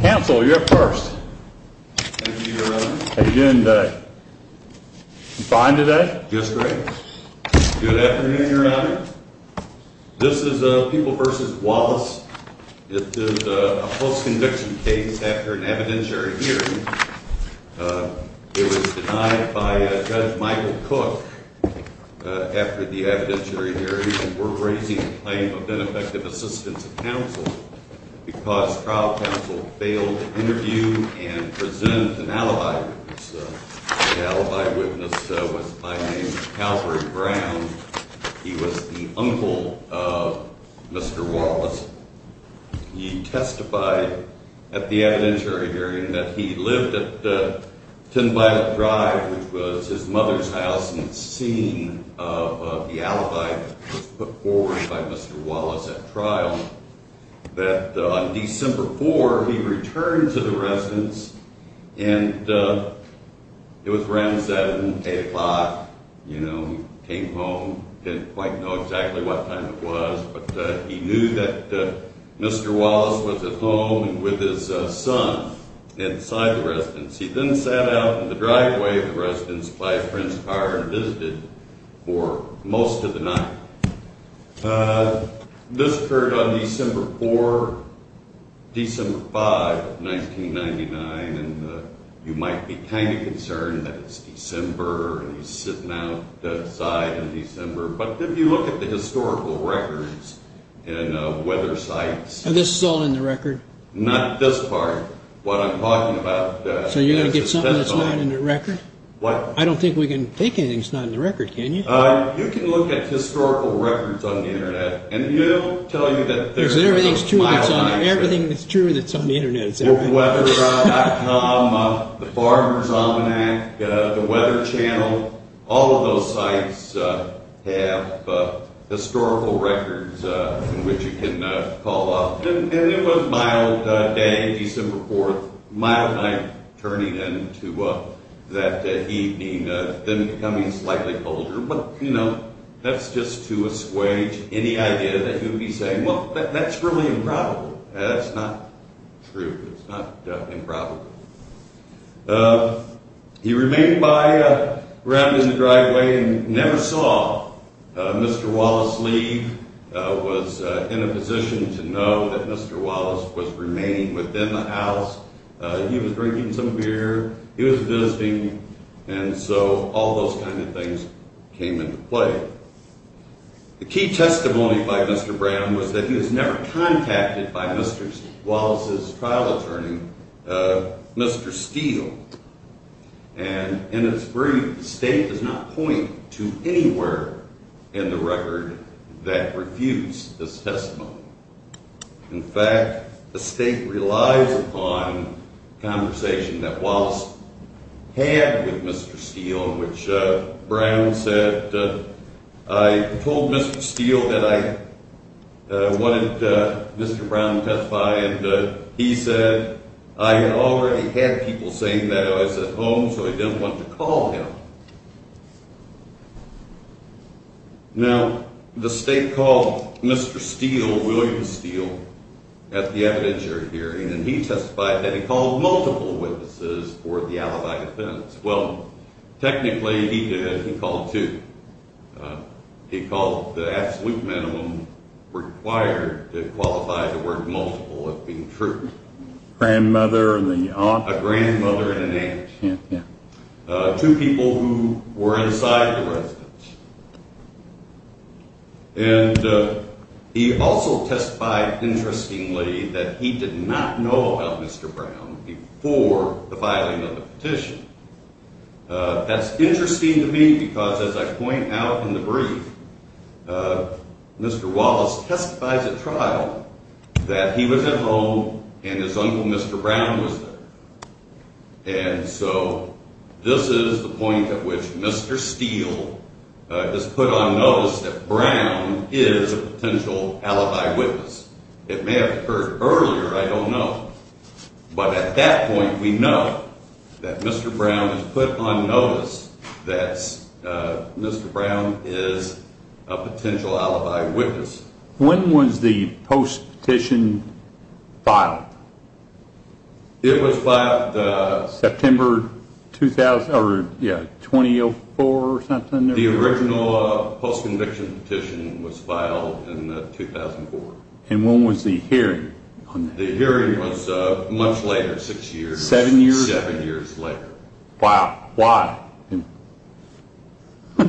Counsel, you're up first. Thank you, Your Honor. How are you doing today? You fine today? Just great. Good afternoon, Your Honor. This is People v. Wallace. This is a post-conviction case after an evidentiary hearing. It was denied by Judge Michael Cook after the evidentiary hearing. We're raising a claim of ineffective assistance of counsel because trial counsel failed to interview and present an alibi witness. The alibi witness was by the name of Calvary Brown. He was the uncle of Mr. Wallace. He testified at the evidentiary hearing that he lived at 10 Bible Drive, which was his mother's house, and it's seen of the alibi that was put forward by Mr. Wallace at trial that on December 4, he returned to the residence, and it was around 7, 8 o'clock. He came home, didn't quite know exactly what time it was, but he knew that Mr. Wallace was at home with his son inside the residence. He then sat out in the driveway of the residence by a friend's car and visited for most of the night. This occurred on December 4, December 5, 1999, and you might be kind of concerned that it's December and he's sitting outside in December, but if you look at the historical records and weather sites. And this is all in the record? Not this part. So you're going to get something that's not in the record? What? I don't think we can take anything that's not in the record, can you? You can look at historical records on the Internet and they'll tell you that there's a mile of records. Everything that's true that's on the Internet is everything. Weather.com, the Farmers Almanac, the Weather Channel, all of those sites have historical records in which you can call up. And it was a mild day, December 4th, a mild night turning into that evening, then becoming slightly colder. But, you know, that's just to assuage any idea that you'd be saying, well, that's really improbable. That's not true. It's not improbable. He remained around in the driveway and never saw Mr. Wallace leave. He was in a position to know that Mr. Wallace was remaining within the house. He was drinking some beer. He was visiting. And so all those kind of things came into play. The key testimony by Mr. Brown was that he was never contacted by Mr. Wallace's trial attorney, Mr. Steele. And in its brief, the State does not point to anywhere in the record that refutes this testimony. In fact, the State relies upon conversation that Wallace had with Mr. Steele, in which Brown said, I told Mr. Steele that I wanted Mr. Brown to testify, and he said, I had already had people saying that I was at home, so I didn't want to call him. Now, the State called Mr. Steele, William Steele, at the evidentiary hearing, and he testified that he called multiple witnesses for the alibi defense. Well, technically, he did. He called two. He called the absolute minimum required to qualify the word multiple as being true. Grandmother and the aunt. A grandmother and an aunt. Yeah, yeah. Two people who were inside the residence. And he also testified, interestingly, that he did not know about Mr. Brown before the filing of the petition. That's interesting to me because, as I point out in the brief, Mr. Wallace testifies at trial that he was at home and his uncle, Mr. Brown, was there. And so this is the point at which Mr. Steele has put on notice that Brown is a potential alibi witness. It may have occurred earlier, I don't know. But at that point, we know that Mr. Brown has put on notice that Mr. Brown is a potential alibi witness. When was the post-petition filed? It was filed September 2004 or something. The original post-conviction petition was filed in 2004. And when was the hearing on that? The hearing was much later, six years. Seven years? Seven years later. Wow. Why?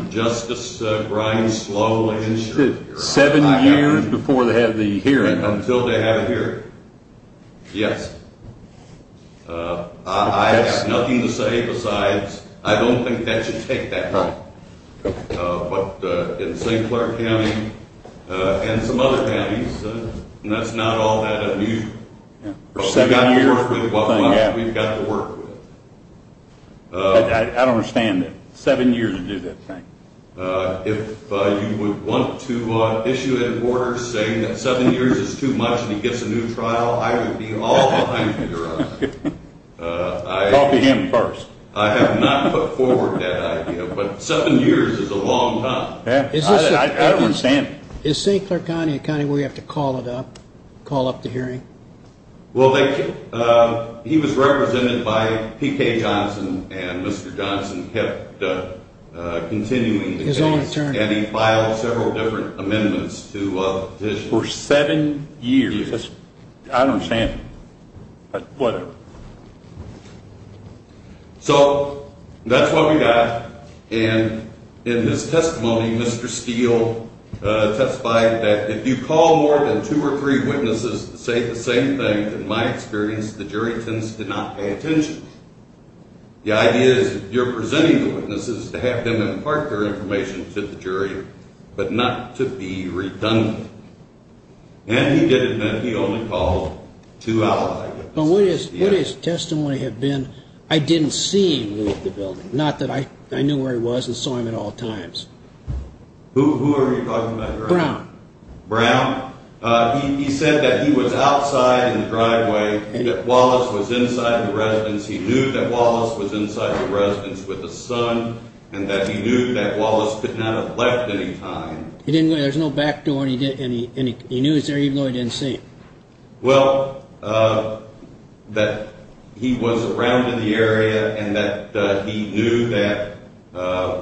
Justice Brian Sloan insured the hearing. Seven years before they had the hearing? Until they had a hearing, yes. I have nothing to say besides I don't think that should take that long. But in St. Clair County and some other counties, that's not all that unusual. But we've got to work with it. I don't understand that. Seven years to do that thing. If you would want to issue an order saying that seven years is too much and he gets a new trial, I would be all behind you on that. I'll be him first. I have not put forward that idea, but seven years is a long time. I don't understand. Is St. Clair County a county where you have to call it up, call up the hearing? Well, he was represented by P.K. Johnson and Mr. Johnson kept continuing the case. And he filed several different amendments to the petition. For seven years? I don't understand. Whatever. So that's what we got. And in his testimony, Mr. Steele testified that if you call more than two or three witnesses to say the same thing, in my experience, the jury tends to not pay attention. The idea is you're presenting the witnesses to have them impart their information to the jury but not to be redundant. And he did admit he only called two ally witnesses. But what his testimony had been, I didn't see him leave the building, not that I knew where he was and saw him at all times. Who were you talking about? Brown. Brown? He said that he was outside in the driveway, that Wallace was inside the residence. He knew that Wallace was inside the residence with his son and that he knew that Wallace could not have left any time. There's no back door and he knew he was there even though he didn't see him. Well, that he was around in the area and that he knew that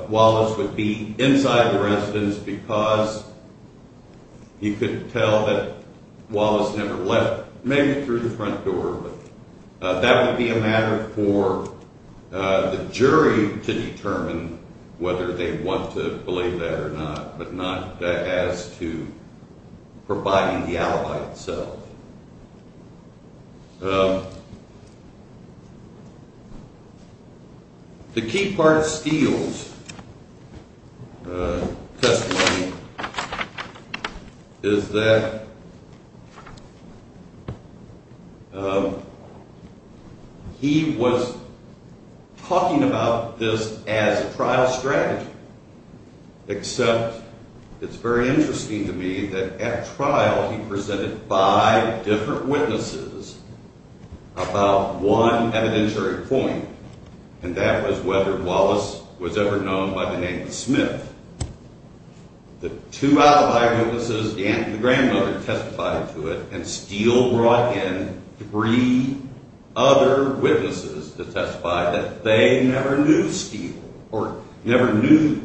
Wallace would be inside the residence because he could tell that Wallace never left, maybe through the front door. But that would be a matter for the jury to determine whether they want to believe that or not, but not as to providing the alibi itself. The key part of Steele's testimony is that he was talking about this as a trial strategy. Except it's very interesting to me that at trial he presented five different witnesses about one evidentiary point, and that was whether Wallace was ever known by the name Smith. The two alibi witnesses, the aunt and the grandmother testified to it, and Steele brought in three other witnesses to testify that they never knew Steele or never knew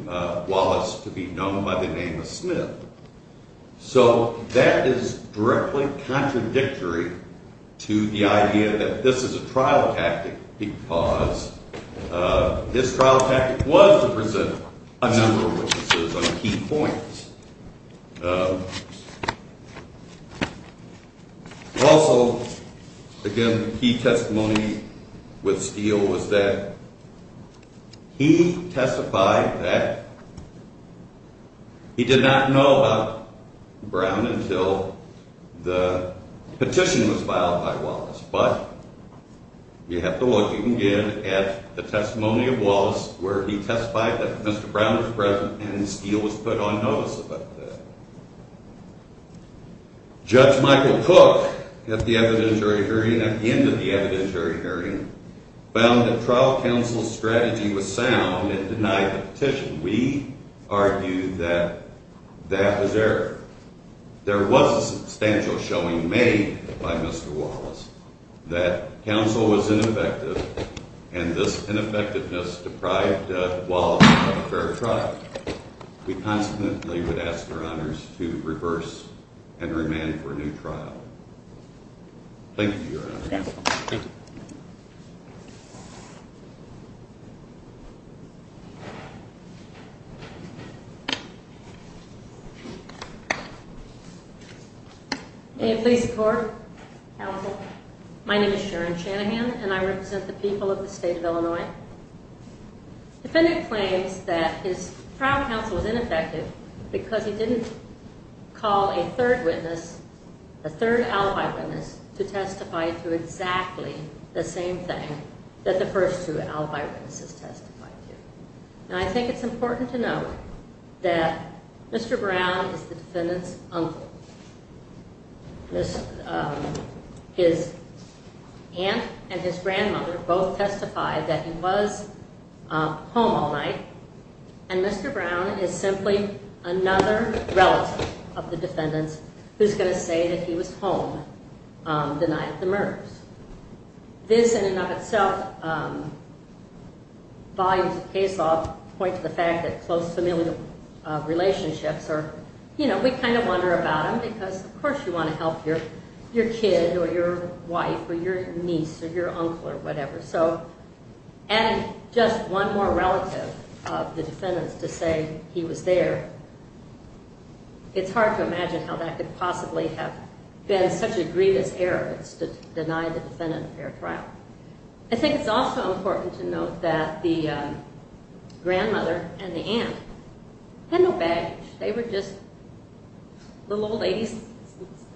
Wallace to be known by the name of Smith. So that is directly contradictory to the idea that this is a trial tactic because this trial tactic was to present a number of witnesses on key points. Also, again, the key testimony with Steele was that he testified that he did not know about Brown until the petition was filed by Wallace. But you have to look, you can get at the testimony of Wallace where he testified that Mr. Brown was present and Steele was put on notice about that. Judge Michael Cook, at the end of the evidentiary hearing, found that trial counsel's strategy was sound and denied the petition. We argue that that was error. There was a substantial showing made by Mr. Wallace that counsel was ineffective and this ineffectiveness deprived Wallace of a fair trial. We constantly would ask Your Honors to reverse and remand for a new trial. Thank you, Your Honors. Thank you. Thank you. May it please the Court. Counsel, my name is Sharon Shanahan and I represent the people of the state of Illinois. Defendant claims that his trial counsel was ineffective because he didn't call a third witness, a third alibi witness, to testify to exactly the same thing that the first two alibi witnesses testified to. And I think it's important to note that Mr. Brown is the defendant's uncle. His aunt and his grandmother both testified that he was home all night and Mr. Brown is simply another relative of the defendant's who's going to say that he was home the night of the murders. This, in and of itself, volumes of case law point to the fact that close familial relationships are, you know, we kind of wonder about him because of course you want to help your kid or your wife or your niece or your uncle or whatever. So adding just one more relative of the defendant's to say he was there, it's hard to imagine how that could possibly have been such a grievous error to deny the defendant a fair trial. I think it's also important to note that the grandmother and the aunt had no baggage. They were just little old ladies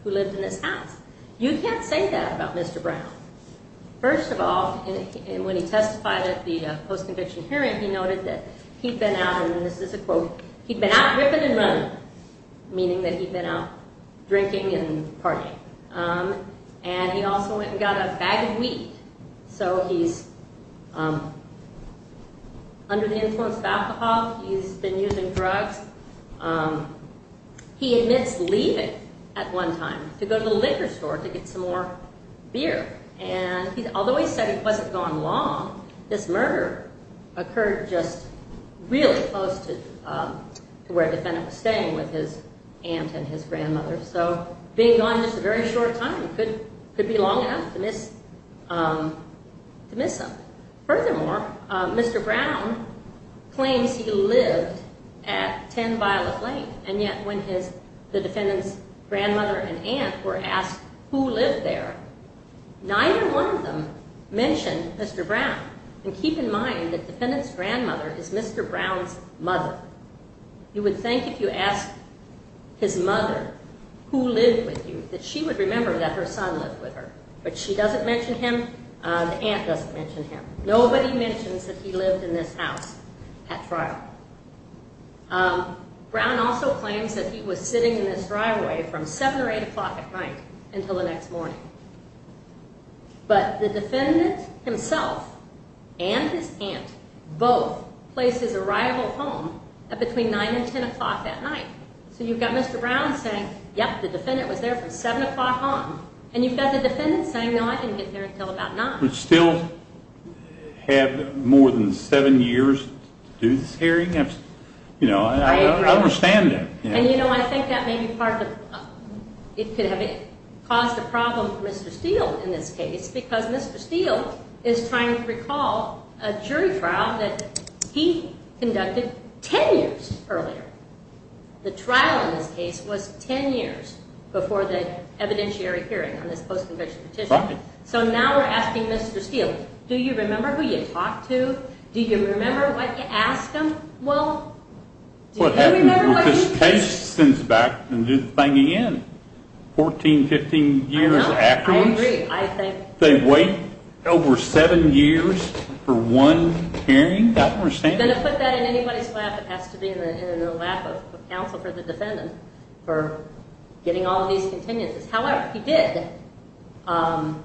who lived in this house. You can't say that about Mr. Brown. First of all, when he testified at the post-conviction hearing, he noted that he'd been out, and this is a quote, he'd been out ripping and running, meaning that he'd been out drinking and partying. And he also went and got a bag of wheat. So he's under the influence of alcohol, he's been using drugs. He admits leaving at one time to go to the liquor store to get some more beer. And although he said it wasn't gone long, this murder occurred just really close to where the defendant was staying with his aunt and his grandmother. So being gone just a very short time could be long enough to miss him. Furthermore, Mr. Brown claims he lived at 10 Violet Lane, and yet when the defendant's grandmother and aunt were asked who lived there, neither one of them mentioned Mr. Brown. And keep in mind that the defendant's grandmother is Mr. Brown's mother. You would think if you asked his mother who lived with you that she would remember that her son lived with her. But she doesn't mention him, the aunt doesn't mention him. Nobody mentions that he lived in this house at trial. Brown also claims that he was sitting in this driveway from 7 or 8 o'clock at night until the next morning. But the defendant himself and his aunt both placed his arrival home at between 9 and 10 o'clock that night. So you've got Mr. Brown saying, yep, the defendant was there from 7 o'clock on. And you've got the defendant saying, no, I didn't get there until about 9. But still had more than 7 years to do this hearing? I understand that. And you know, I think that may be part of, it could have caused a problem for Mr. Steele in this case. Because Mr. Steele is trying to recall a jury trial that he conducted 10 years earlier. The trial in this case was 10 years before the evidentiary hearing on this post-conviction petition. So now we're asking Mr. Steele, do you remember who you talked to? Do you remember what you asked him? Well, do you remember what you said? This case sends back the thing again. 14, 15 years afterwards? I agree. I think. They wait over 7 years for one hearing? I don't understand that. If you're going to put that in anybody's lap, it has to be in the lap of counsel for the defendant for getting all these continuances. However, he did amend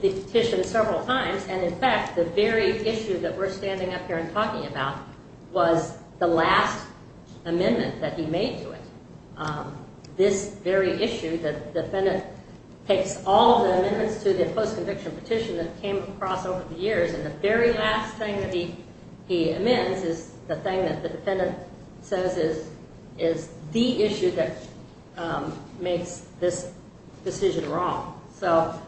the petition several times. And in fact, the very issue that we're standing up here and talking about was the last amendment that he made to it. This very issue, the defendant takes all of the amendments to the post-conviction petition that came across over the years. And the very last thing that he amends is the thing that the defendant says is the issue that makes this decision wrong. So,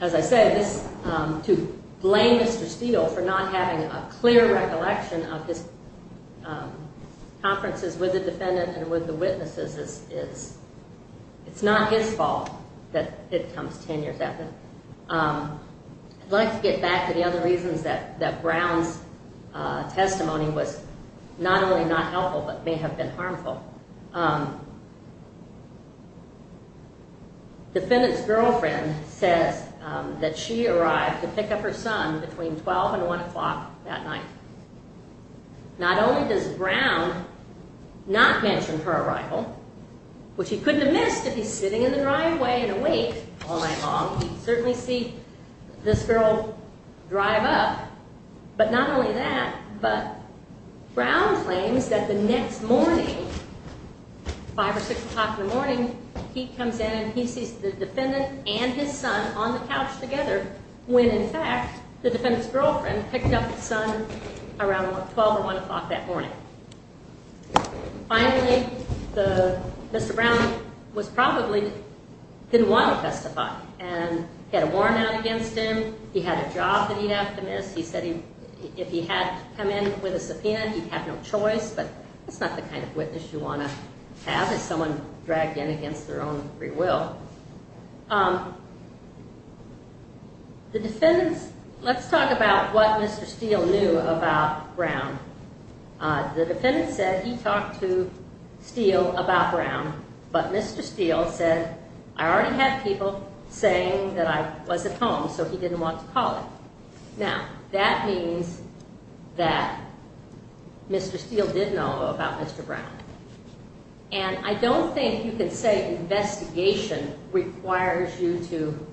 as I say, to blame Mr. Steele for not having a clear recollection of his conferences with the defendant and with the witnesses, it's not his fault that it comes 10 years after. I'd like to get back to the other reasons that Brown's testimony was not only not helpful, but may have been harmful. The defendant's girlfriend says that she arrived to pick up her son between 12 and 1 o'clock that night. Not only does Brown not mention her arrival, which he couldn't have missed if he's sitting in the driveway and awake all night long. He'd certainly see this girl drive up. But not only that, but Brown claims that the next morning, 5 or 6 o'clock in the morning, he comes in and he sees the defendant and his son on the couch together when, in fact, the defendant's girlfriend picked up his son around 12 or 1 o'clock that morning. Finally, Mr. Brown probably didn't want to testify. He had a warrant out against him. He had a job that he'd have to miss. He said if he had to come in with a subpoena, he'd have no choice, but that's not the kind of witness you want to have if someone dragged in against their own free will. Let's talk about what Mr. Steele knew about Brown. The defendant said he talked to Steele about Brown, but Mr. Steele said, I already had people saying that I wasn't home, so he didn't want to call it. Now, that means that Mr. Steele did know about Mr. Brown. And I don't think you can say investigation requires you to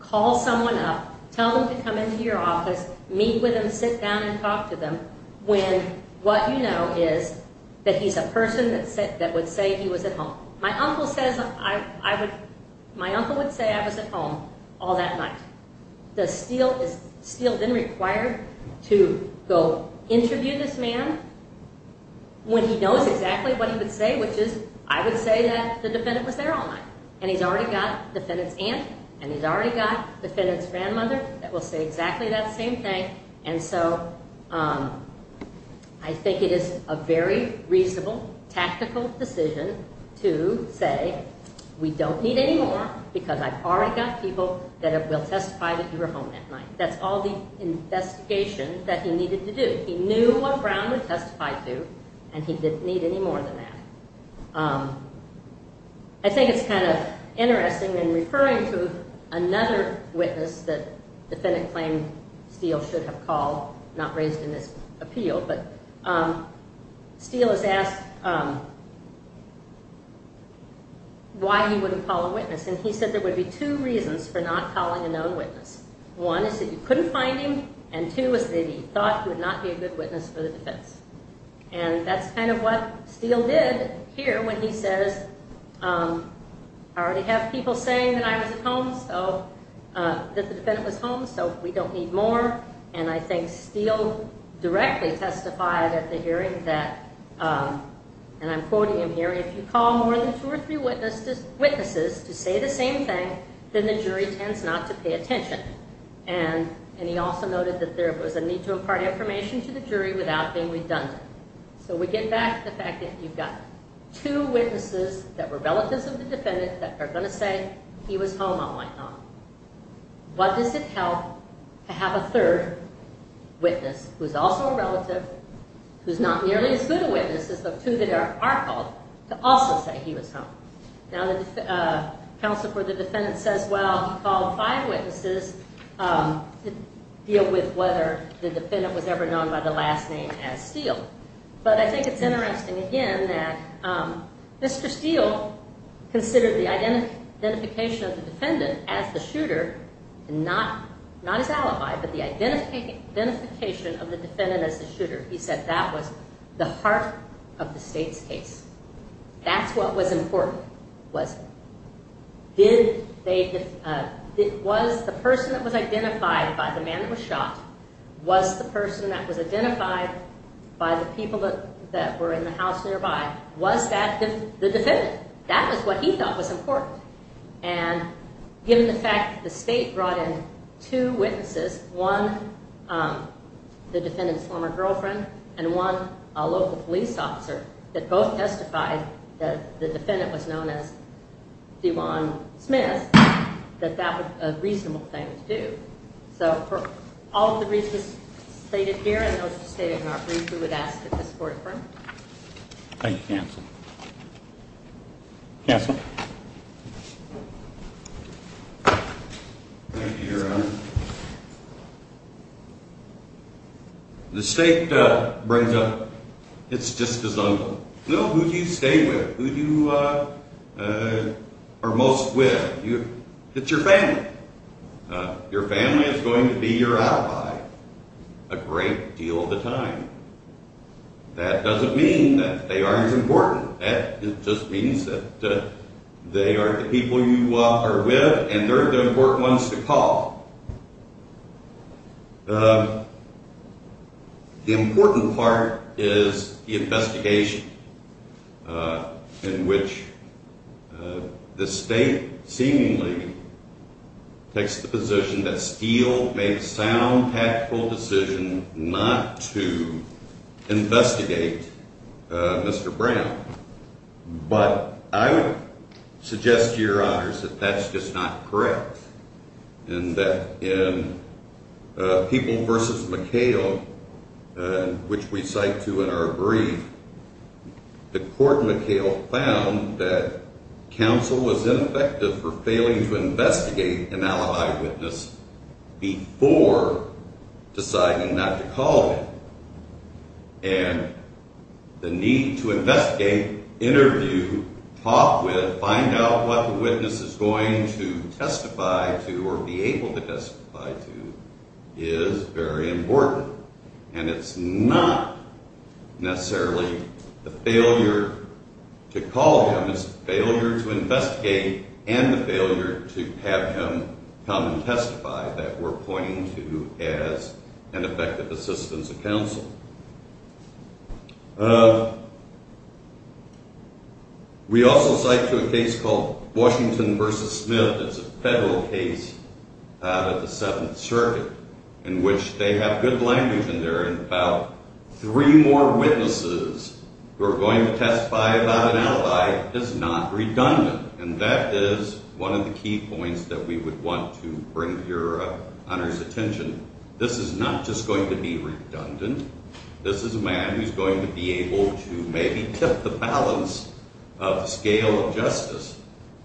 call someone up, tell them to come into your office, meet with them, sit down and talk to them, when what you know is that he's a person that would say he was at home. My uncle would say I was at home all that night. Does Steele then require to go interview this man when he knows exactly what he would say, which is I would say that the defendant was there all night? And he's already got the defendant's aunt, and he's already got the defendant's grandmother that will say exactly that same thing. And so I think it is a very reasonable, tactical decision to say we don't need any more because I've already got people that will testify that you were home that night. That's all the investigation that he needed to do. He knew what Brown would testify to, and he didn't need any more than that. I think it's kind of interesting in referring to another witness that defendant claimed Steele should have called, not raised in this appeal, but Steele is asked why he wouldn't call a witness. And he said there would be two reasons for not calling a known witness. One is that you couldn't find him, and two is that he thought he would not be a good witness for the defense. And that's kind of what Steele did here when he says I already have people saying that I was at home, that the defendant was home, so we don't need more. And I think Steele directly testified at the hearing that, and I'm quoting him here, if you call more than two or three witnesses to say the same thing, then the jury tends not to pay attention. And he also noted that there was a need to impart information to the jury without being redundant. So we get back to the fact that you've got two witnesses that were relatives of the defendant that are going to say he was home all night long. What does it help to have a third witness who's also a relative, who's not nearly as good a witness as the two that are called, to also say he was home? Now the counsel for the defendant says, well, he called five witnesses to deal with whether the defendant was ever known by the last name as Steele. But I think it's interesting, again, that Mr. Steele considered the identification of the defendant as the shooter, not his alibi, but the identification of the defendant as the shooter. He said that was the heart of the state's case. That's what was important, was it? Was the person that was identified by the man that was shot, was the person that was identified by the people that were in the house nearby, was that the defendant? That was what he thought was important. And given the fact that the state brought in two witnesses, one the defendant's former girlfriend and one a local police officer that both testified that the defendant was known as DeJuan Smith, that that was a reasonable thing to do. So for all of the reasons stated here and those stated in our brief, we would ask that this court affirm. Thank you, counsel. Counsel? Thank you, Your Honor. The state brings up, it's just a zone. Who do you stay with? Who do you are most with? It's your family. Your family is going to be your alibi a great deal of the time. That doesn't mean that they aren't as important. That just means that they are the people you are with and they're the important ones to call. The important part is the investigation in which the state seemingly takes the position that Steele made a sound tactical decision not to investigate Mr. Brown. But I would suggest to Your Honors that that's just not correct and that in People v. McHale, which we cite to in our brief, the court McHale found that counsel was ineffective for failing to investigate an alibi witness before deciding not to call him. And the need to investigate, interview, talk with, find out what the witness is going to testify to or be able to testify to is very important. And it's not necessarily the failure to call him. It's the failure to investigate and the failure to have him come and testify that we're pointing to as an effective assistance of counsel. We also cite to a case called Washington v. Smith. It's a federal case out of the Seventh Circuit in which they have good language in there about three more witnesses who are going to testify about an alibi is not redundant. And that is one of the key points that we would want to bring to Your Honors' attention. This is not just going to be redundant. This is a man who's going to be able to maybe tip the balance of the scale of justice,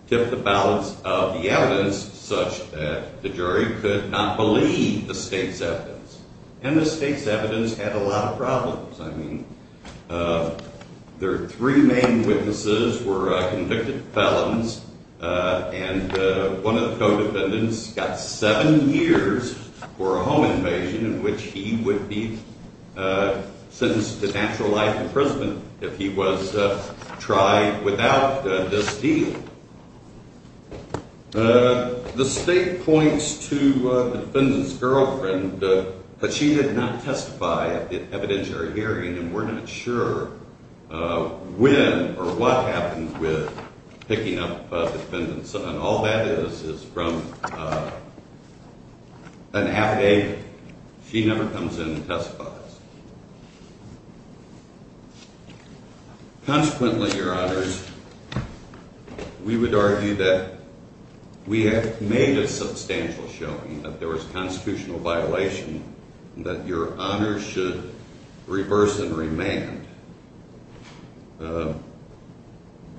tip the balance of the evidence such that the jury could not believe the state's evidence. And the state's evidence had a lot of problems. I mean, their three main witnesses were convicted felons, and one of the co-defendants got seven years for a home invasion in which he would be sentenced to natural life imprisonment if he was tried without this deal. The state points to the defendant's girlfriend, but she did not testify at the evidentiary hearing, and we're not sure when or what happened with picking up the defendant's son. All that is is from an affidavit. She never comes in and testifies. Consequently, Your Honors, we would argue that we have made a substantial showing that there was a constitutional violation, and that Your Honors should reverse and remand for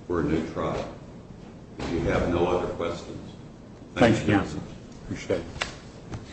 a new trial. Do you have no other questions? Thanks, Counsel. Appreciate it.